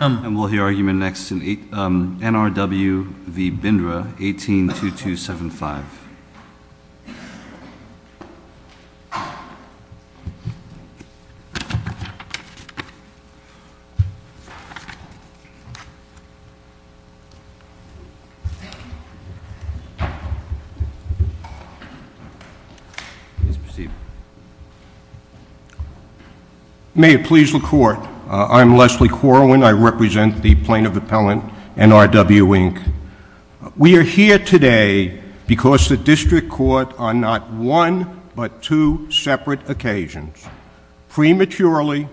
And we'll hear argument next in NRW v. Bindra, 18-2275. Please proceed. May it please the Court. I'm Leslie Corwin. I represent the Plaintiff Appellant, NRW, Inc. We are here today because the District Court on not one but two separate occasions, prematurely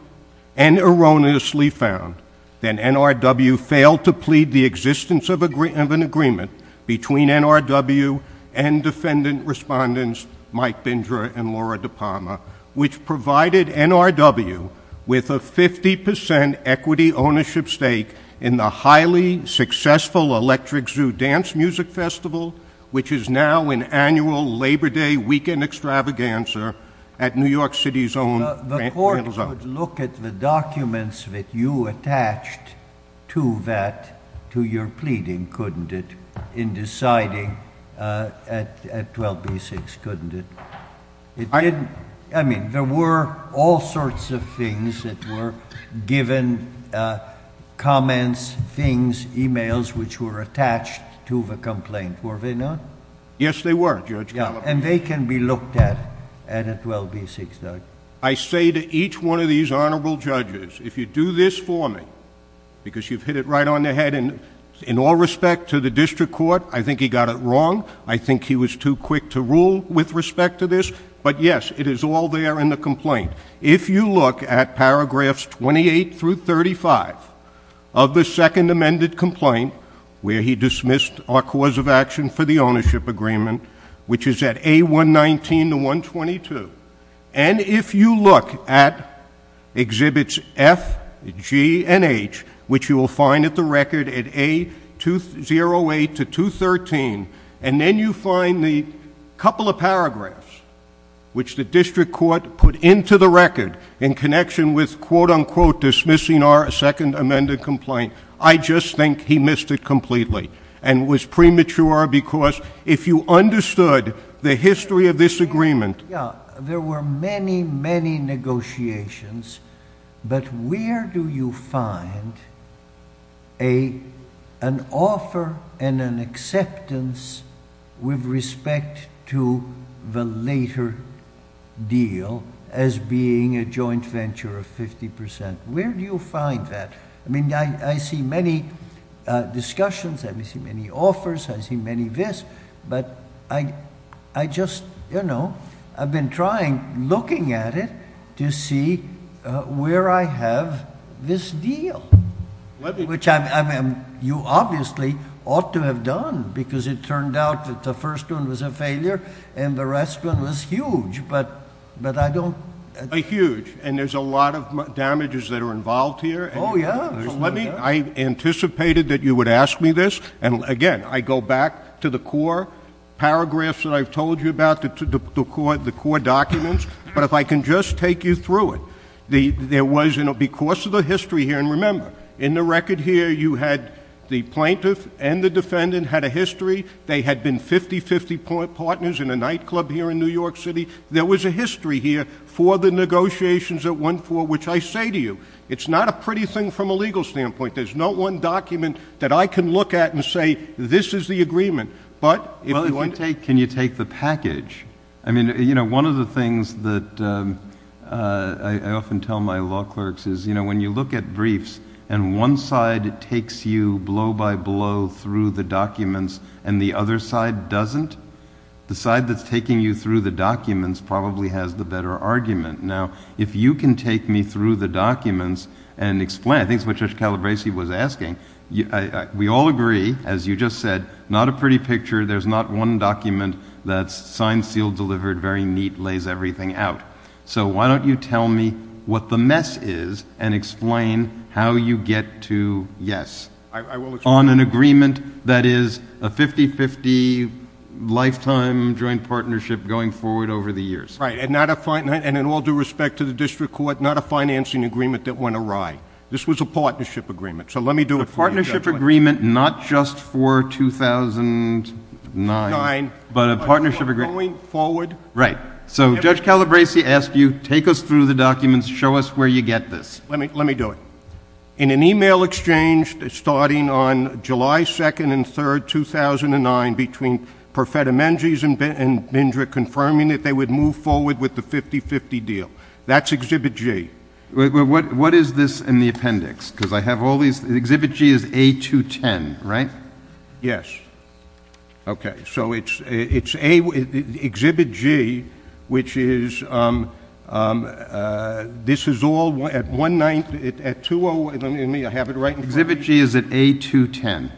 and erroneously found, that NRW failed to plead the existence of an agreement between NRW and Defendant Respondents Mike Bindra and Laura DePalma, which provided NRW with a 50% equity ownership stake in the highly successful Electric Zoo Dance Music Festival, which is now an annual Labor Day weekend extravaganza at New York City's own Grand Rental Zone. I would look at the documents that you attached to that, to your pleading, couldn't it, in deciding at 12b-6, couldn't it? I mean, there were all sorts of things that were given, comments, things, e-mails, which were attached to the complaint, were they not? Yes, they were, Judge Gallop. And they can be looked at at 12b-6, Doug? I say to each one of these Honorable Judges, if you do this for me, because you've hit it right on the head, in all respect to the District Court, I think he got it wrong, I think he was too quick to rule with respect to this, but yes, it is all there in the complaint. If you look at paragraphs 28 through 35 of the second amended complaint, where he dismissed our cause of action for the ownership agreement, which is at A119-122, and if you look at Exhibits F, G, and H, which you will find at the record at A208-213, and then you find the couple of paragraphs which the District Court put into the record in connection with, quote-unquote, dismissing our second amended complaint, I just think he missed it completely, and was premature because if you understood the history of this agreement. There were many, many negotiations, but where do you find an offer and an acceptance with respect to the later deal as being a joint venture of 50%? Where do you find that? I mean, I see many discussions, I see many offers, I see many this, but I just, you know, I've been trying, looking at it, to see where I have this deal, which you obviously ought to have done, because it turned out that the first one was a failure, and the rest one was huge, but I don't... Huge, and there's a lot of damages that are involved here. Oh, yeah. I anticipated that you would ask me this, and again, I go back to the core paragraphs that I've told you about, the core documents, but if I can just take you through it, there was, you know, because of the history here, and remember, in the record here you had the plaintiff and the defendant had a history, they had been 50-50 partners in a nightclub here in New York City, there was a history here for the negotiations that went forward, which I say to you, it's not a pretty thing from a legal standpoint. There's not one document that I can look at and say, this is the agreement, but if you want... Well, if you take, can you take the package? I mean, you know, one of the things that I often tell my law clerks is, you know, when you look at briefs, and one side takes you blow by blow through the documents, and the other side doesn't, the side that's taking you through the documents probably has the better argument. Now, if you can take me through the documents and explain, I think it's what Judge Calabresi was asking, we all agree, as you just said, not a pretty picture, there's not one document that's signed, sealed, delivered, very neat, lays everything out. So why don't you tell me what the mess is and explain how you get to yes. On an agreement that is a 50-50 lifetime joint partnership going forward over the years. Right, and in all due respect to the district court, not a financing agreement that went awry. This was a partnership agreement, so let me do it for you. A partnership agreement not just for 2009, but a partnership agreement... Going forward... Right, so Judge Calabresi asked you, take us through the documents, show us where you get this. Let me do it. In an e-mail exchange starting on July 2nd and 3rd, 2009, between Perfetta Menges and Bindra confirming that they would move forward with the 50-50 deal. That's Exhibit G. What is this in the appendix? Because I have all these, Exhibit G is A210, right? Yes. Okay, so it's Exhibit G, which is, this is all at 1-9, at 2-0, let me have it right... Exhibit G is at A210.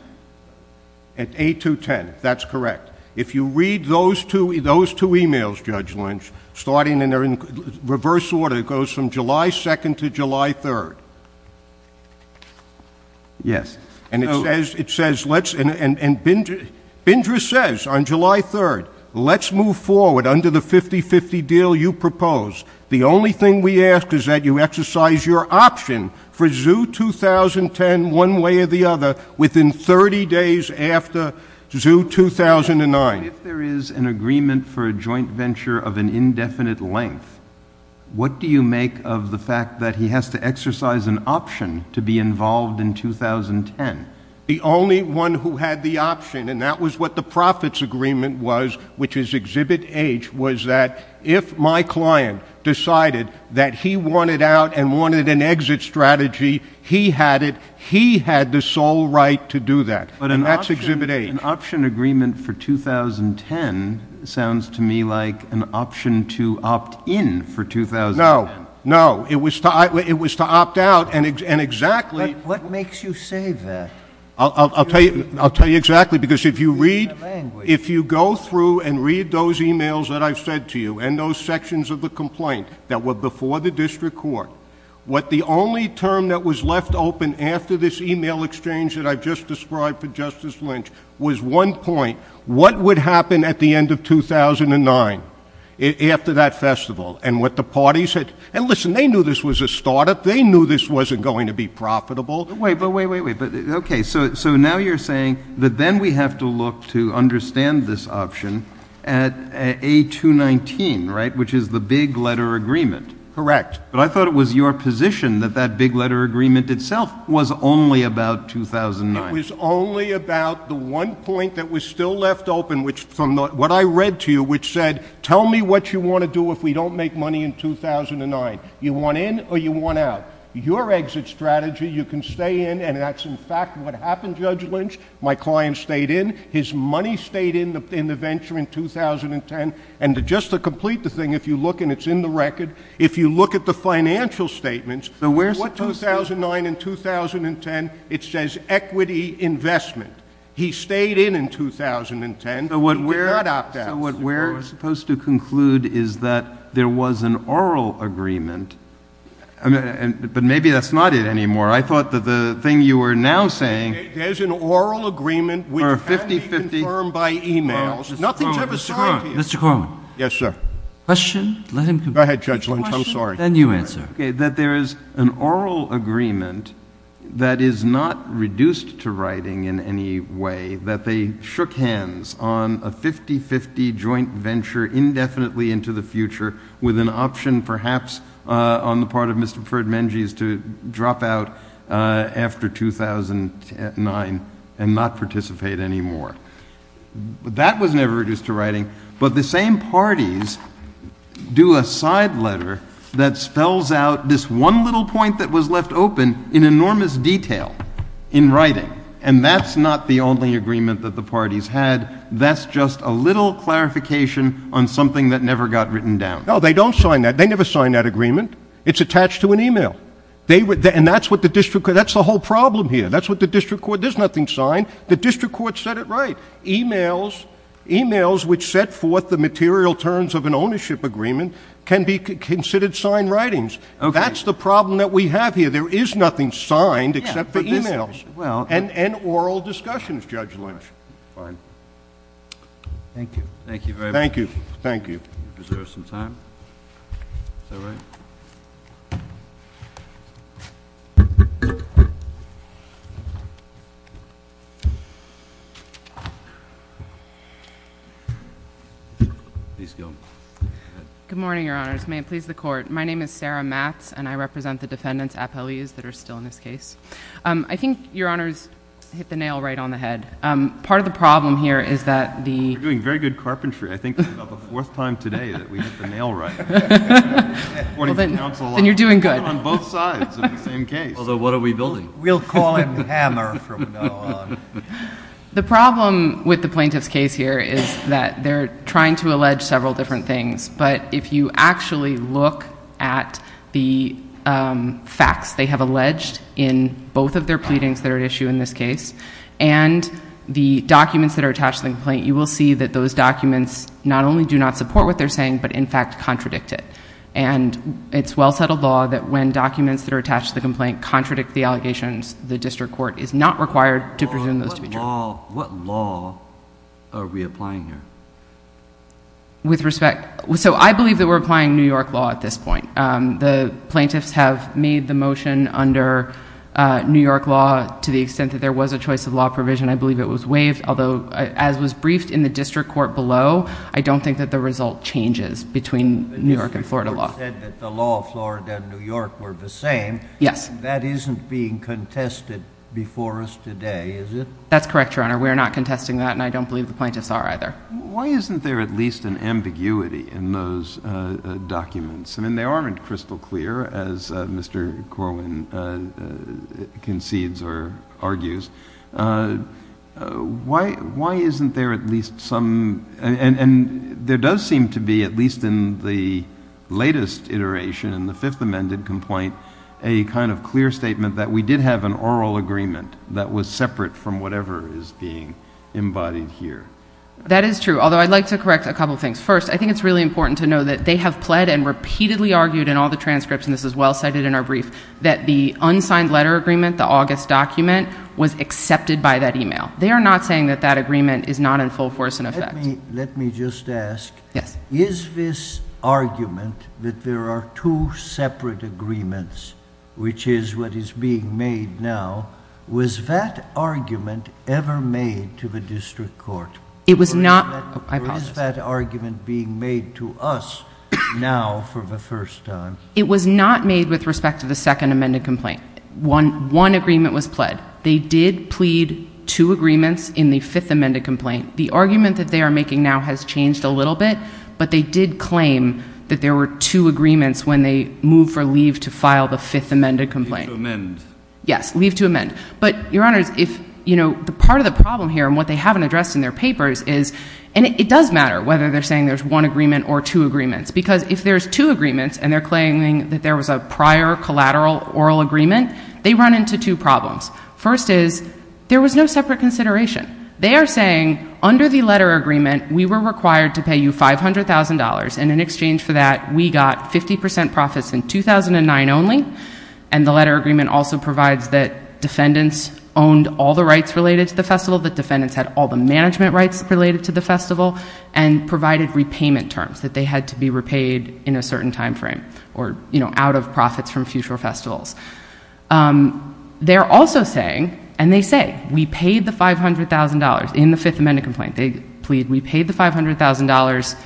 At A210, that's correct. If you read those two e-mails, Judge Lynch, starting in reverse order, it goes from July 2nd to July 3rd. Yes. And it says, let's, and Bindra says on July 3rd, let's move forward under the 50-50 deal you propose. The only thing we ask is that you exercise your option for Zoo 2010 one way or the other within 30 days after Zoo 2009. If there is an agreement for a joint venture of an indefinite length, what do you make of the fact that he has to exercise an option to be involved in 2010? The only one who had the option, and that was what the profits agreement was, which is Exhibit H, was that if my client decided that he wanted out and wanted an exit strategy, he had it, he had the sole right to do that. And that's Exhibit H. An option agreement for 2010 sounds to me like an option to opt in for 2010. No, no. It was to opt out, and exactly— What makes you say that? I'll tell you exactly, because if you read, if you go through and read those e-mails that I've said to you, and those sections of the complaint that were before the district court, what the only term that was left open after this e-mail exchange that I've just described for Justice Lynch was one point, what would happen at the end of 2009 after that festival? And what the parties had—and listen, they knew this was a startup. They knew this wasn't going to be profitable. Wait, wait, wait, wait. Okay, so now you're saying that then we have to look to understand this option at A219, right, which is the big letter agreement. Correct. But I thought it was your position that that big letter agreement itself was only about 2009. It was only about the one point that was still left open, which from what I read to you, which said, tell me what you want to do if we don't make money in 2009. You want in or you want out. Your exit strategy, you can stay in, and that's in fact what happened, Judge Lynch. My client stayed in. His money stayed in the venture in 2010. And just to complete the thing, if you look, and it's in the record, if you look at the financial statements, what 2009 and 2010, it says equity investment. He stayed in in 2010. He did not opt out. So what we're supposed to conclude is that there was an oral agreement, but maybe that's not it anymore. I thought that the thing you were now saying— There's an oral agreement which can be confirmed by e-mails. Nothing to have assigned to you. Mr. Corwin. Yes, sir. Question? Go ahead, Judge Lynch. I'm sorry. Then you answer. Okay, that there is an oral agreement that is not reduced to writing in any way, that they shook hands on a 50-50 joint venture indefinitely into the future with an option perhaps on the part of Mr. Ferdinand Mengis to drop out after 2009 and not participate anymore. That was never reduced to writing. But the same parties do a side letter that spells out this one little point that was left open in enormous detail in writing. And that's not the only agreement that the parties had. That's just a little clarification on something that never got written down. No, they don't sign that. They never sign that agreement. It's attached to an e-mail. And that's what the district—that's the whole problem here. That's what the district court—there's nothing signed. The district court said it right. E-mails, which set forth the material terms of an ownership agreement, can be considered signed writings. That's the problem that we have here. There is nothing signed except for e-mails and oral discussions, Judge Lynch. Fine. Thank you. Thank you very much. Thank you. Thank you. We deserve some time. Is that right? Please go ahead. Good morning, Your Honors. May it please the Court. My name is Sarah Matz, and I represent the defendants, appellees, that are still in this case. I think Your Honors hit the nail right on the head. Part of the problem here is that the— You're doing very good carpentry. I think it's about the fourth time today that we hit the nail right. Then you're doing good. On both sides of the same case. Although, what are we building? We'll call him Hammer from now on. The problem with the plaintiff's case here is that they're trying to allege several different things, but if you actually look at the facts they have alleged in both of their pleadings that are at issue in this case and the documents that are attached to the complaint, you will see that those documents not only do not support what they're saying but, in fact, contradict it. It's well-settled law that when documents that are attached to the complaint contradict the allegations, the district court is not required to presume those to be true. What law are we applying here? With respect... I believe that we're applying New York law at this point. The plaintiffs have made the motion under New York law to the extent that there was a choice of law provision. I believe it was waived. Although, as was briefed in the district court below, I don't think that the result changes between New York and Florida law. The district court said that the law of Florida and New York were the same. Yes. That isn't being contested before us today, is it? That's correct, Your Honor. We're not contesting that, and I don't believe the plaintiffs are either. Why isn't there at least an ambiguity in those documents? I mean, they aren't crystal clear, as Mr. Corwin concedes or argues. Why isn't there at least some... And there does seem to be, at least in the latest iteration, in the Fifth Amendment complaint, a kind of clear statement that we did have an oral agreement that was separate from whatever is being embodied here. That is true, although I'd like to correct a couple things. First, I think it's really important to know that they have pled and repeatedly argued in all the transcripts, and this is well cited in our brief, that the unsigned letter agreement, the August document, was accepted by that email. They are not saying that that agreement is not in full force and effect. Let me just ask. Yes. Is this argument that there are two separate agreements, which is what is being made now, was that argument ever made to the district court? It was not... I apologize. Or is that argument being made to us now for the first time? It was not made with respect to the Second Amendment complaint. One agreement was pled. They did plead two agreements in the Fifth Amendment complaint. The argument that they are making now has changed a little bit, but they did claim that there were two agreements when they moved for leave to file the Fifth Amendment complaint. Leave to amend. Yes, leave to amend. But, Your Honors, part of the problem here and what they haven't addressed in their papers is... And it does matter whether they're saying there's one agreement or two agreements, because if there's two agreements and they're claiming that there was a prior collateral oral agreement, they run into two problems. First is, there was no separate consideration. They are saying, under the letter agreement, we were required to pay you $500,000, and in exchange for that, we got 50 percent profits in 2009 only. And the letter agreement also provides that defendants owned all the rights related to the festival, that defendants had all the management rights related to the festival, and provided repayment terms, that they had to be repaid in a certain time frame, or, you know, out of profits from future festivals. They're also saying, and they say, we paid the $500,000 in the Fifth Amendment complaint. They plead, we paid the $500,000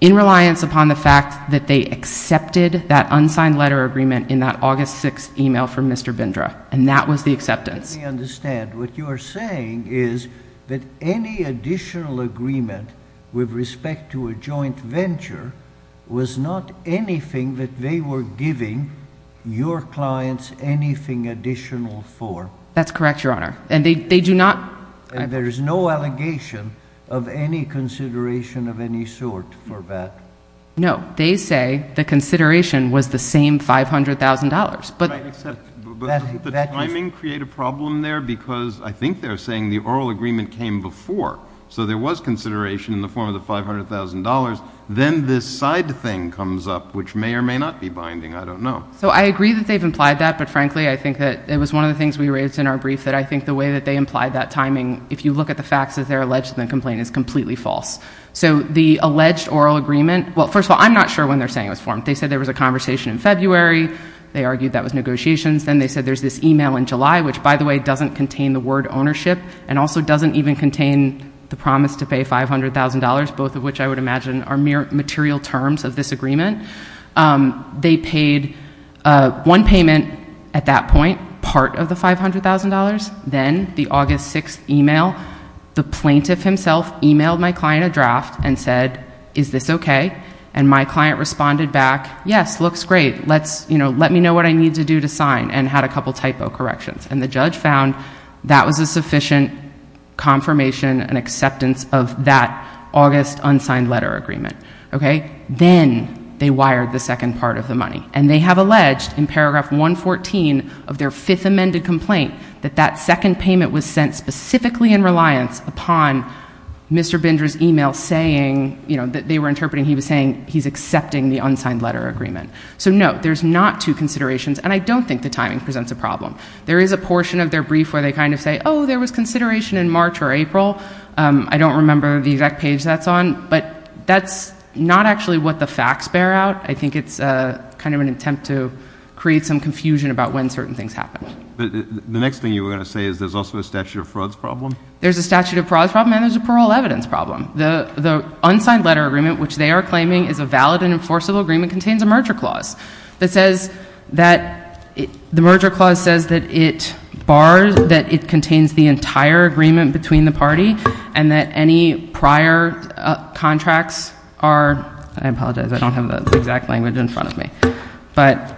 in reliance upon the fact that they accepted that unsigned letter agreement in that August 6th email from Mr. Bindra, and that was the acceptance. Let me understand. What you are saying is that any additional agreement with respect to a joint venture was not anything that they were giving your clients anything additional for? That's correct, Your Honor, and they do not. And there is no allegation of any consideration of any sort for that? No. They say the consideration was the same $500,000. But doesn't the timing create a problem there? Because I think they're saying the oral agreement came before, so there was consideration in the form of the $500,000. Then this side thing comes up, which may or may not be binding. I don't know. So I agree that they've implied that, but, frankly, I think that it was one of the things we raised in our brief that I think the way that they implied that timing, if you look at the facts of their alleged complaint, is completely false. So the alleged oral agreement, well, first of all, I'm not sure when they're saying it was formed. They said there was a conversation in February. They argued that was negotiations. Then they said there's this e-mail in July, which, by the way, doesn't contain the word ownership and also doesn't even contain the promise to pay $500,000, both of which I would imagine are mere material terms of this agreement. They paid one payment at that point, part of the $500,000. Then the August 6th e-mail, the plaintiff himself e-mailed my client a draft and said, is this okay? And my client responded back, yes, looks great. Let me know what I need to do to sign and had a couple of typo corrections. And the judge found that was a sufficient confirmation and acceptance of that August unsigned letter agreement. Then they wired the second part of the money. And they have alleged in paragraph 114 of their fifth amended complaint that that second payment was sent specifically in reliance upon Mr. Bindra's e-mail saying, you know, they were interpreting he was saying he's accepting the unsigned letter agreement. So, no, there's not two considerations, and I don't think the timing presents a problem. There is a portion of their brief where they kind of say, oh, there was consideration in March or April. I don't remember the exact page that's on, but that's not actually what the facts bear out. I think it's kind of an attempt to create some confusion about when certain things happened. The next thing you were going to say is there's also a statute of frauds problem? There's a statute of frauds problem and there's a parole evidence problem. The unsigned letter agreement, which they are claiming is a valid and enforceable agreement, contains a merger clause that says that the merger clause says that it bars, that it contains the entire agreement between the party and that any prior contracts are, I apologize, I don't have the exact language in front of me, but,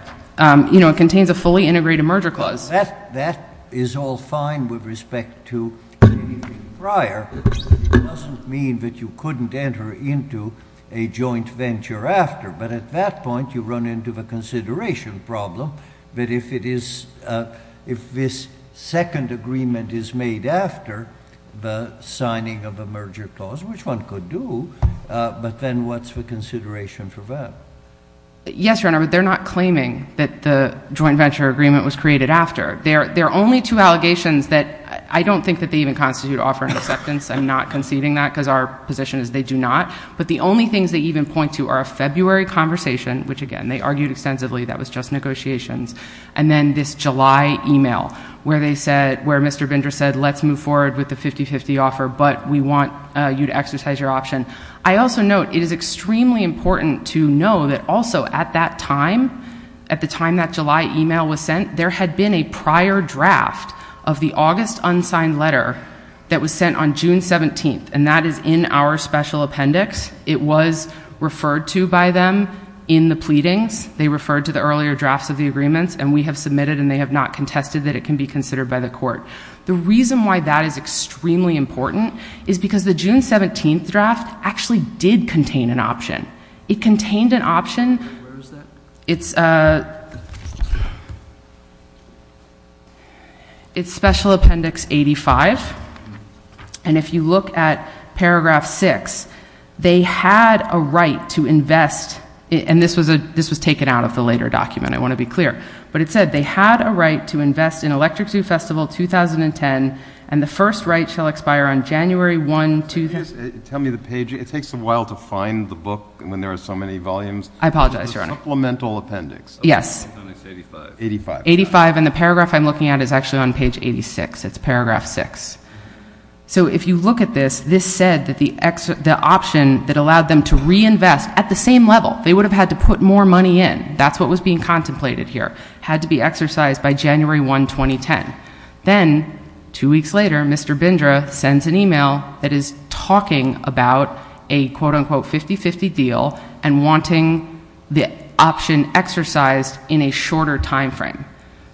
you know, contains a fully integrated merger clause. That is all fine with respect to anything prior. It doesn't mean that you couldn't enter into a joint venture after, but at that point you run into the consideration problem that if it is, if this second agreement is made after the signing of a merger clause, which one could do, but then what's the consideration for that? Yes, Your Honor, but they're not claiming that the joint venture agreement was created after. There are only two allegations that I don't think that they even constitute offer and acceptance. I'm not conceding that because our position is they do not. But the only things they even point to are a February conversation, which, again, they argued extensively, that was just negotiations, and then this July email where they said, where Mr. Binder said, let's move forward with the 50-50 offer, but we want you to exercise your option. I also note it is extremely important to know that also at that time, at the time that July email was sent, there had been a prior draft of the August unsigned letter that was sent on June 17th, and that is in our special appendix. It was referred to by them in the pleadings. They referred to the earlier drafts of the agreements, and we have submitted, and they have not contested that it can be considered by the court. The reason why that is extremely important is because the June 17th draft actually did contain an option. It contained an option. Where is that? It's special appendix 85, and if you look at paragraph 6, they had a right to invest, and this was taken out of the later document, I want to be clear, but it said they had a right to invest in Electric Zoo Festival 2010, and the first right shall expire on January 1, 2010. Tell me the page. It takes a while to find the book when there are so many volumes. I apologize, Your Honor. Supplemental appendix. Yes. 85. 85, and the paragraph I'm looking at is actually on page 86. It's paragraph 6. So if you look at this, this said that the option that allowed them to reinvest at the same level, they would have had to put more money in. That's what was being contemplated here. It had to be exercised by January 1, 2010. Then two weeks later, Mr. Bindra sends an email that is talking about a quote-unquote 50-50 deal and wanting the option exercised in a shorter time frame.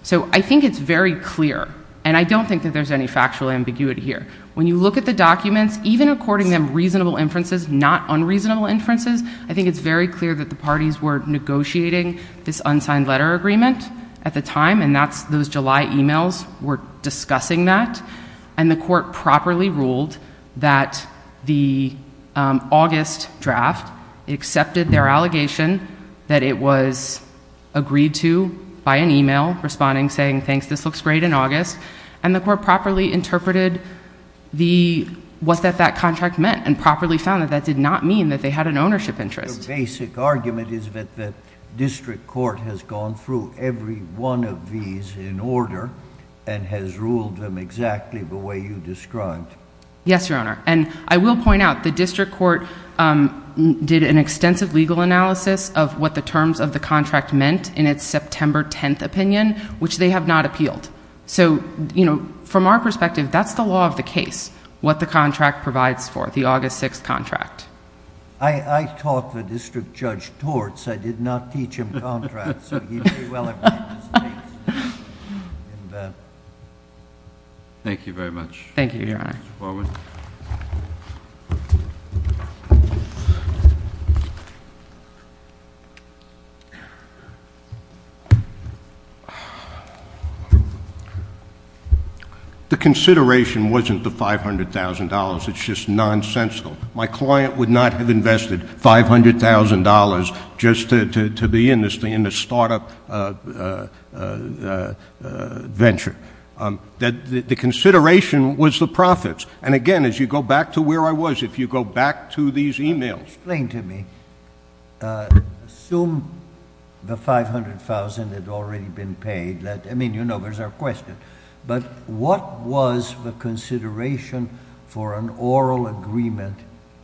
So I think it's very clear, and I don't think that there's any factual ambiguity here. When you look at the documents, even according to reasonable inferences, not unreasonable inferences, I think it's very clear that the parties were negotiating this unsigned letter agreement at the time, and those July emails were discussing that, and the court properly ruled that the August draft accepted their allegation that it was agreed to by an email responding saying, thanks, this looks great in August, and the court properly interpreted what that contract meant and properly found that that did not mean that they had an ownership interest. The basic argument is that the district court has gone through every one of these in order and has ruled them exactly the way you described. Yes, Your Honor, and I will point out the district court did an extensive legal analysis of what the terms of the contract meant in its September 10 opinion, which they have not appealed. So from our perspective, that's the law of the case, what the contract provides for, the August 6 contract. I taught the district judge torts. I did not teach him contracts, so he may well have made mistakes. Thank you very much. Thank you, Your Honor. Mr. Fogarty. The consideration wasn't the $500,000. It's just nonsensical. My client would not have invested $500,000 just to be in this startup venture. The consideration was the profits. And again, as you go back to where I was, if you go back to these e-mails. Explain to me. Assume the $500,000 had already been paid. I mean, you know, there's our question. But what was the consideration for an oral agreement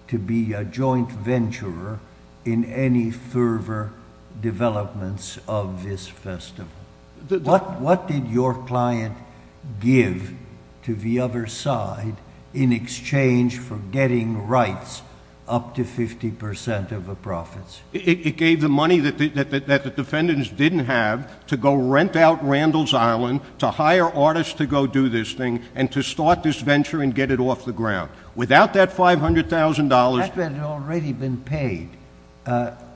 to be a joint venture in any further developments of this festival? What did your client give to the other side in exchange for getting rights up to 50% of the profits? It gave the money that the defendants didn't have to go rent out Randall's Island, to hire artists to go do this thing, and to start this venture and get it off the ground. Without that $500,000. That had already been paid.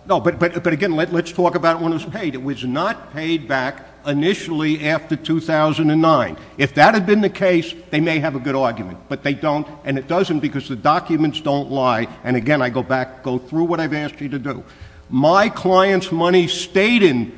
No, but again, let's talk about when it was paid. It was not paid back initially after 2009. If that had been the case, they may have a good argument. But they don't, and it doesn't because the documents don't lie. And again, I go through what I've asked you to do. My client's money stayed in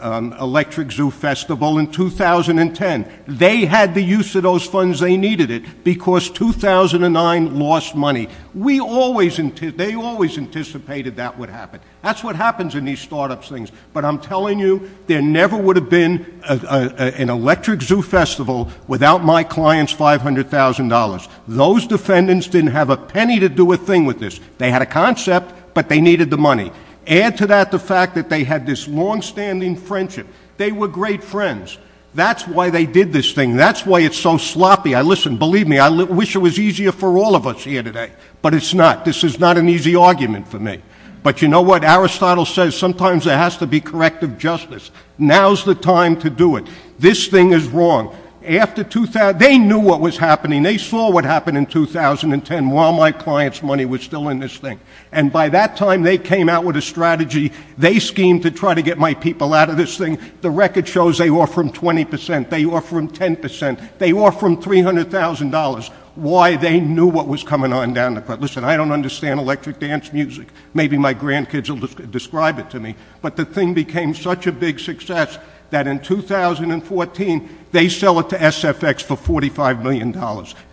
Electric Zoo Festival in 2010. They had the use of those funds. They needed it because 2009 lost money. They always anticipated that would happen. That's what happens in these start-up things. But I'm telling you, there never would have been an Electric Zoo Festival without my client's $500,000. Those defendants didn't have a penny to do a thing with this. They had a concept, but they needed the money. Add to that the fact that they had this long-standing friendship. They were great friends. That's why they did this thing. That's why it's so sloppy. Listen, believe me, I wish it was easier for all of us here today. But it's not. This is not an easy argument for me. But you know what? Aristotle says sometimes there has to be corrective justice. Now's the time to do it. This thing is wrong. They knew what was happening. They saw what happened in 2010 while my client's money was still in this thing. And by that time, they came out with a strategy. They schemed to try to get my people out of this thing. The record shows they offer them 20 percent. They offer them 10 percent. They offer them $300,000. Why? They knew what was coming on down the road. Listen, I don't understand electric dance music. Maybe my grandkids will describe it to me. But the thing became such a big success that in 2014, they sell it to SFX for $45 million.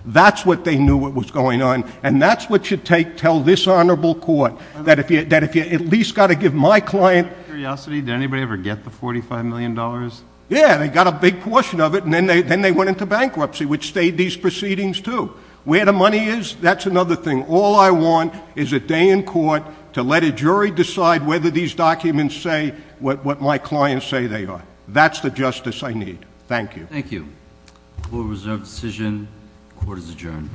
That's what they knew what was going on. And that's what you tell this honorable court, that if you at least got to give my client. Out of curiosity, did anybody ever get the $45 million? Yeah, they got a big portion of it, and then they went into bankruptcy, which stayed these proceedings, too. Where the money is, that's another thing. All I want is a day in court to let a jury decide whether these documents say what my clients say they are. That's the justice I need. Thank you. Thank you. Court is adjourned.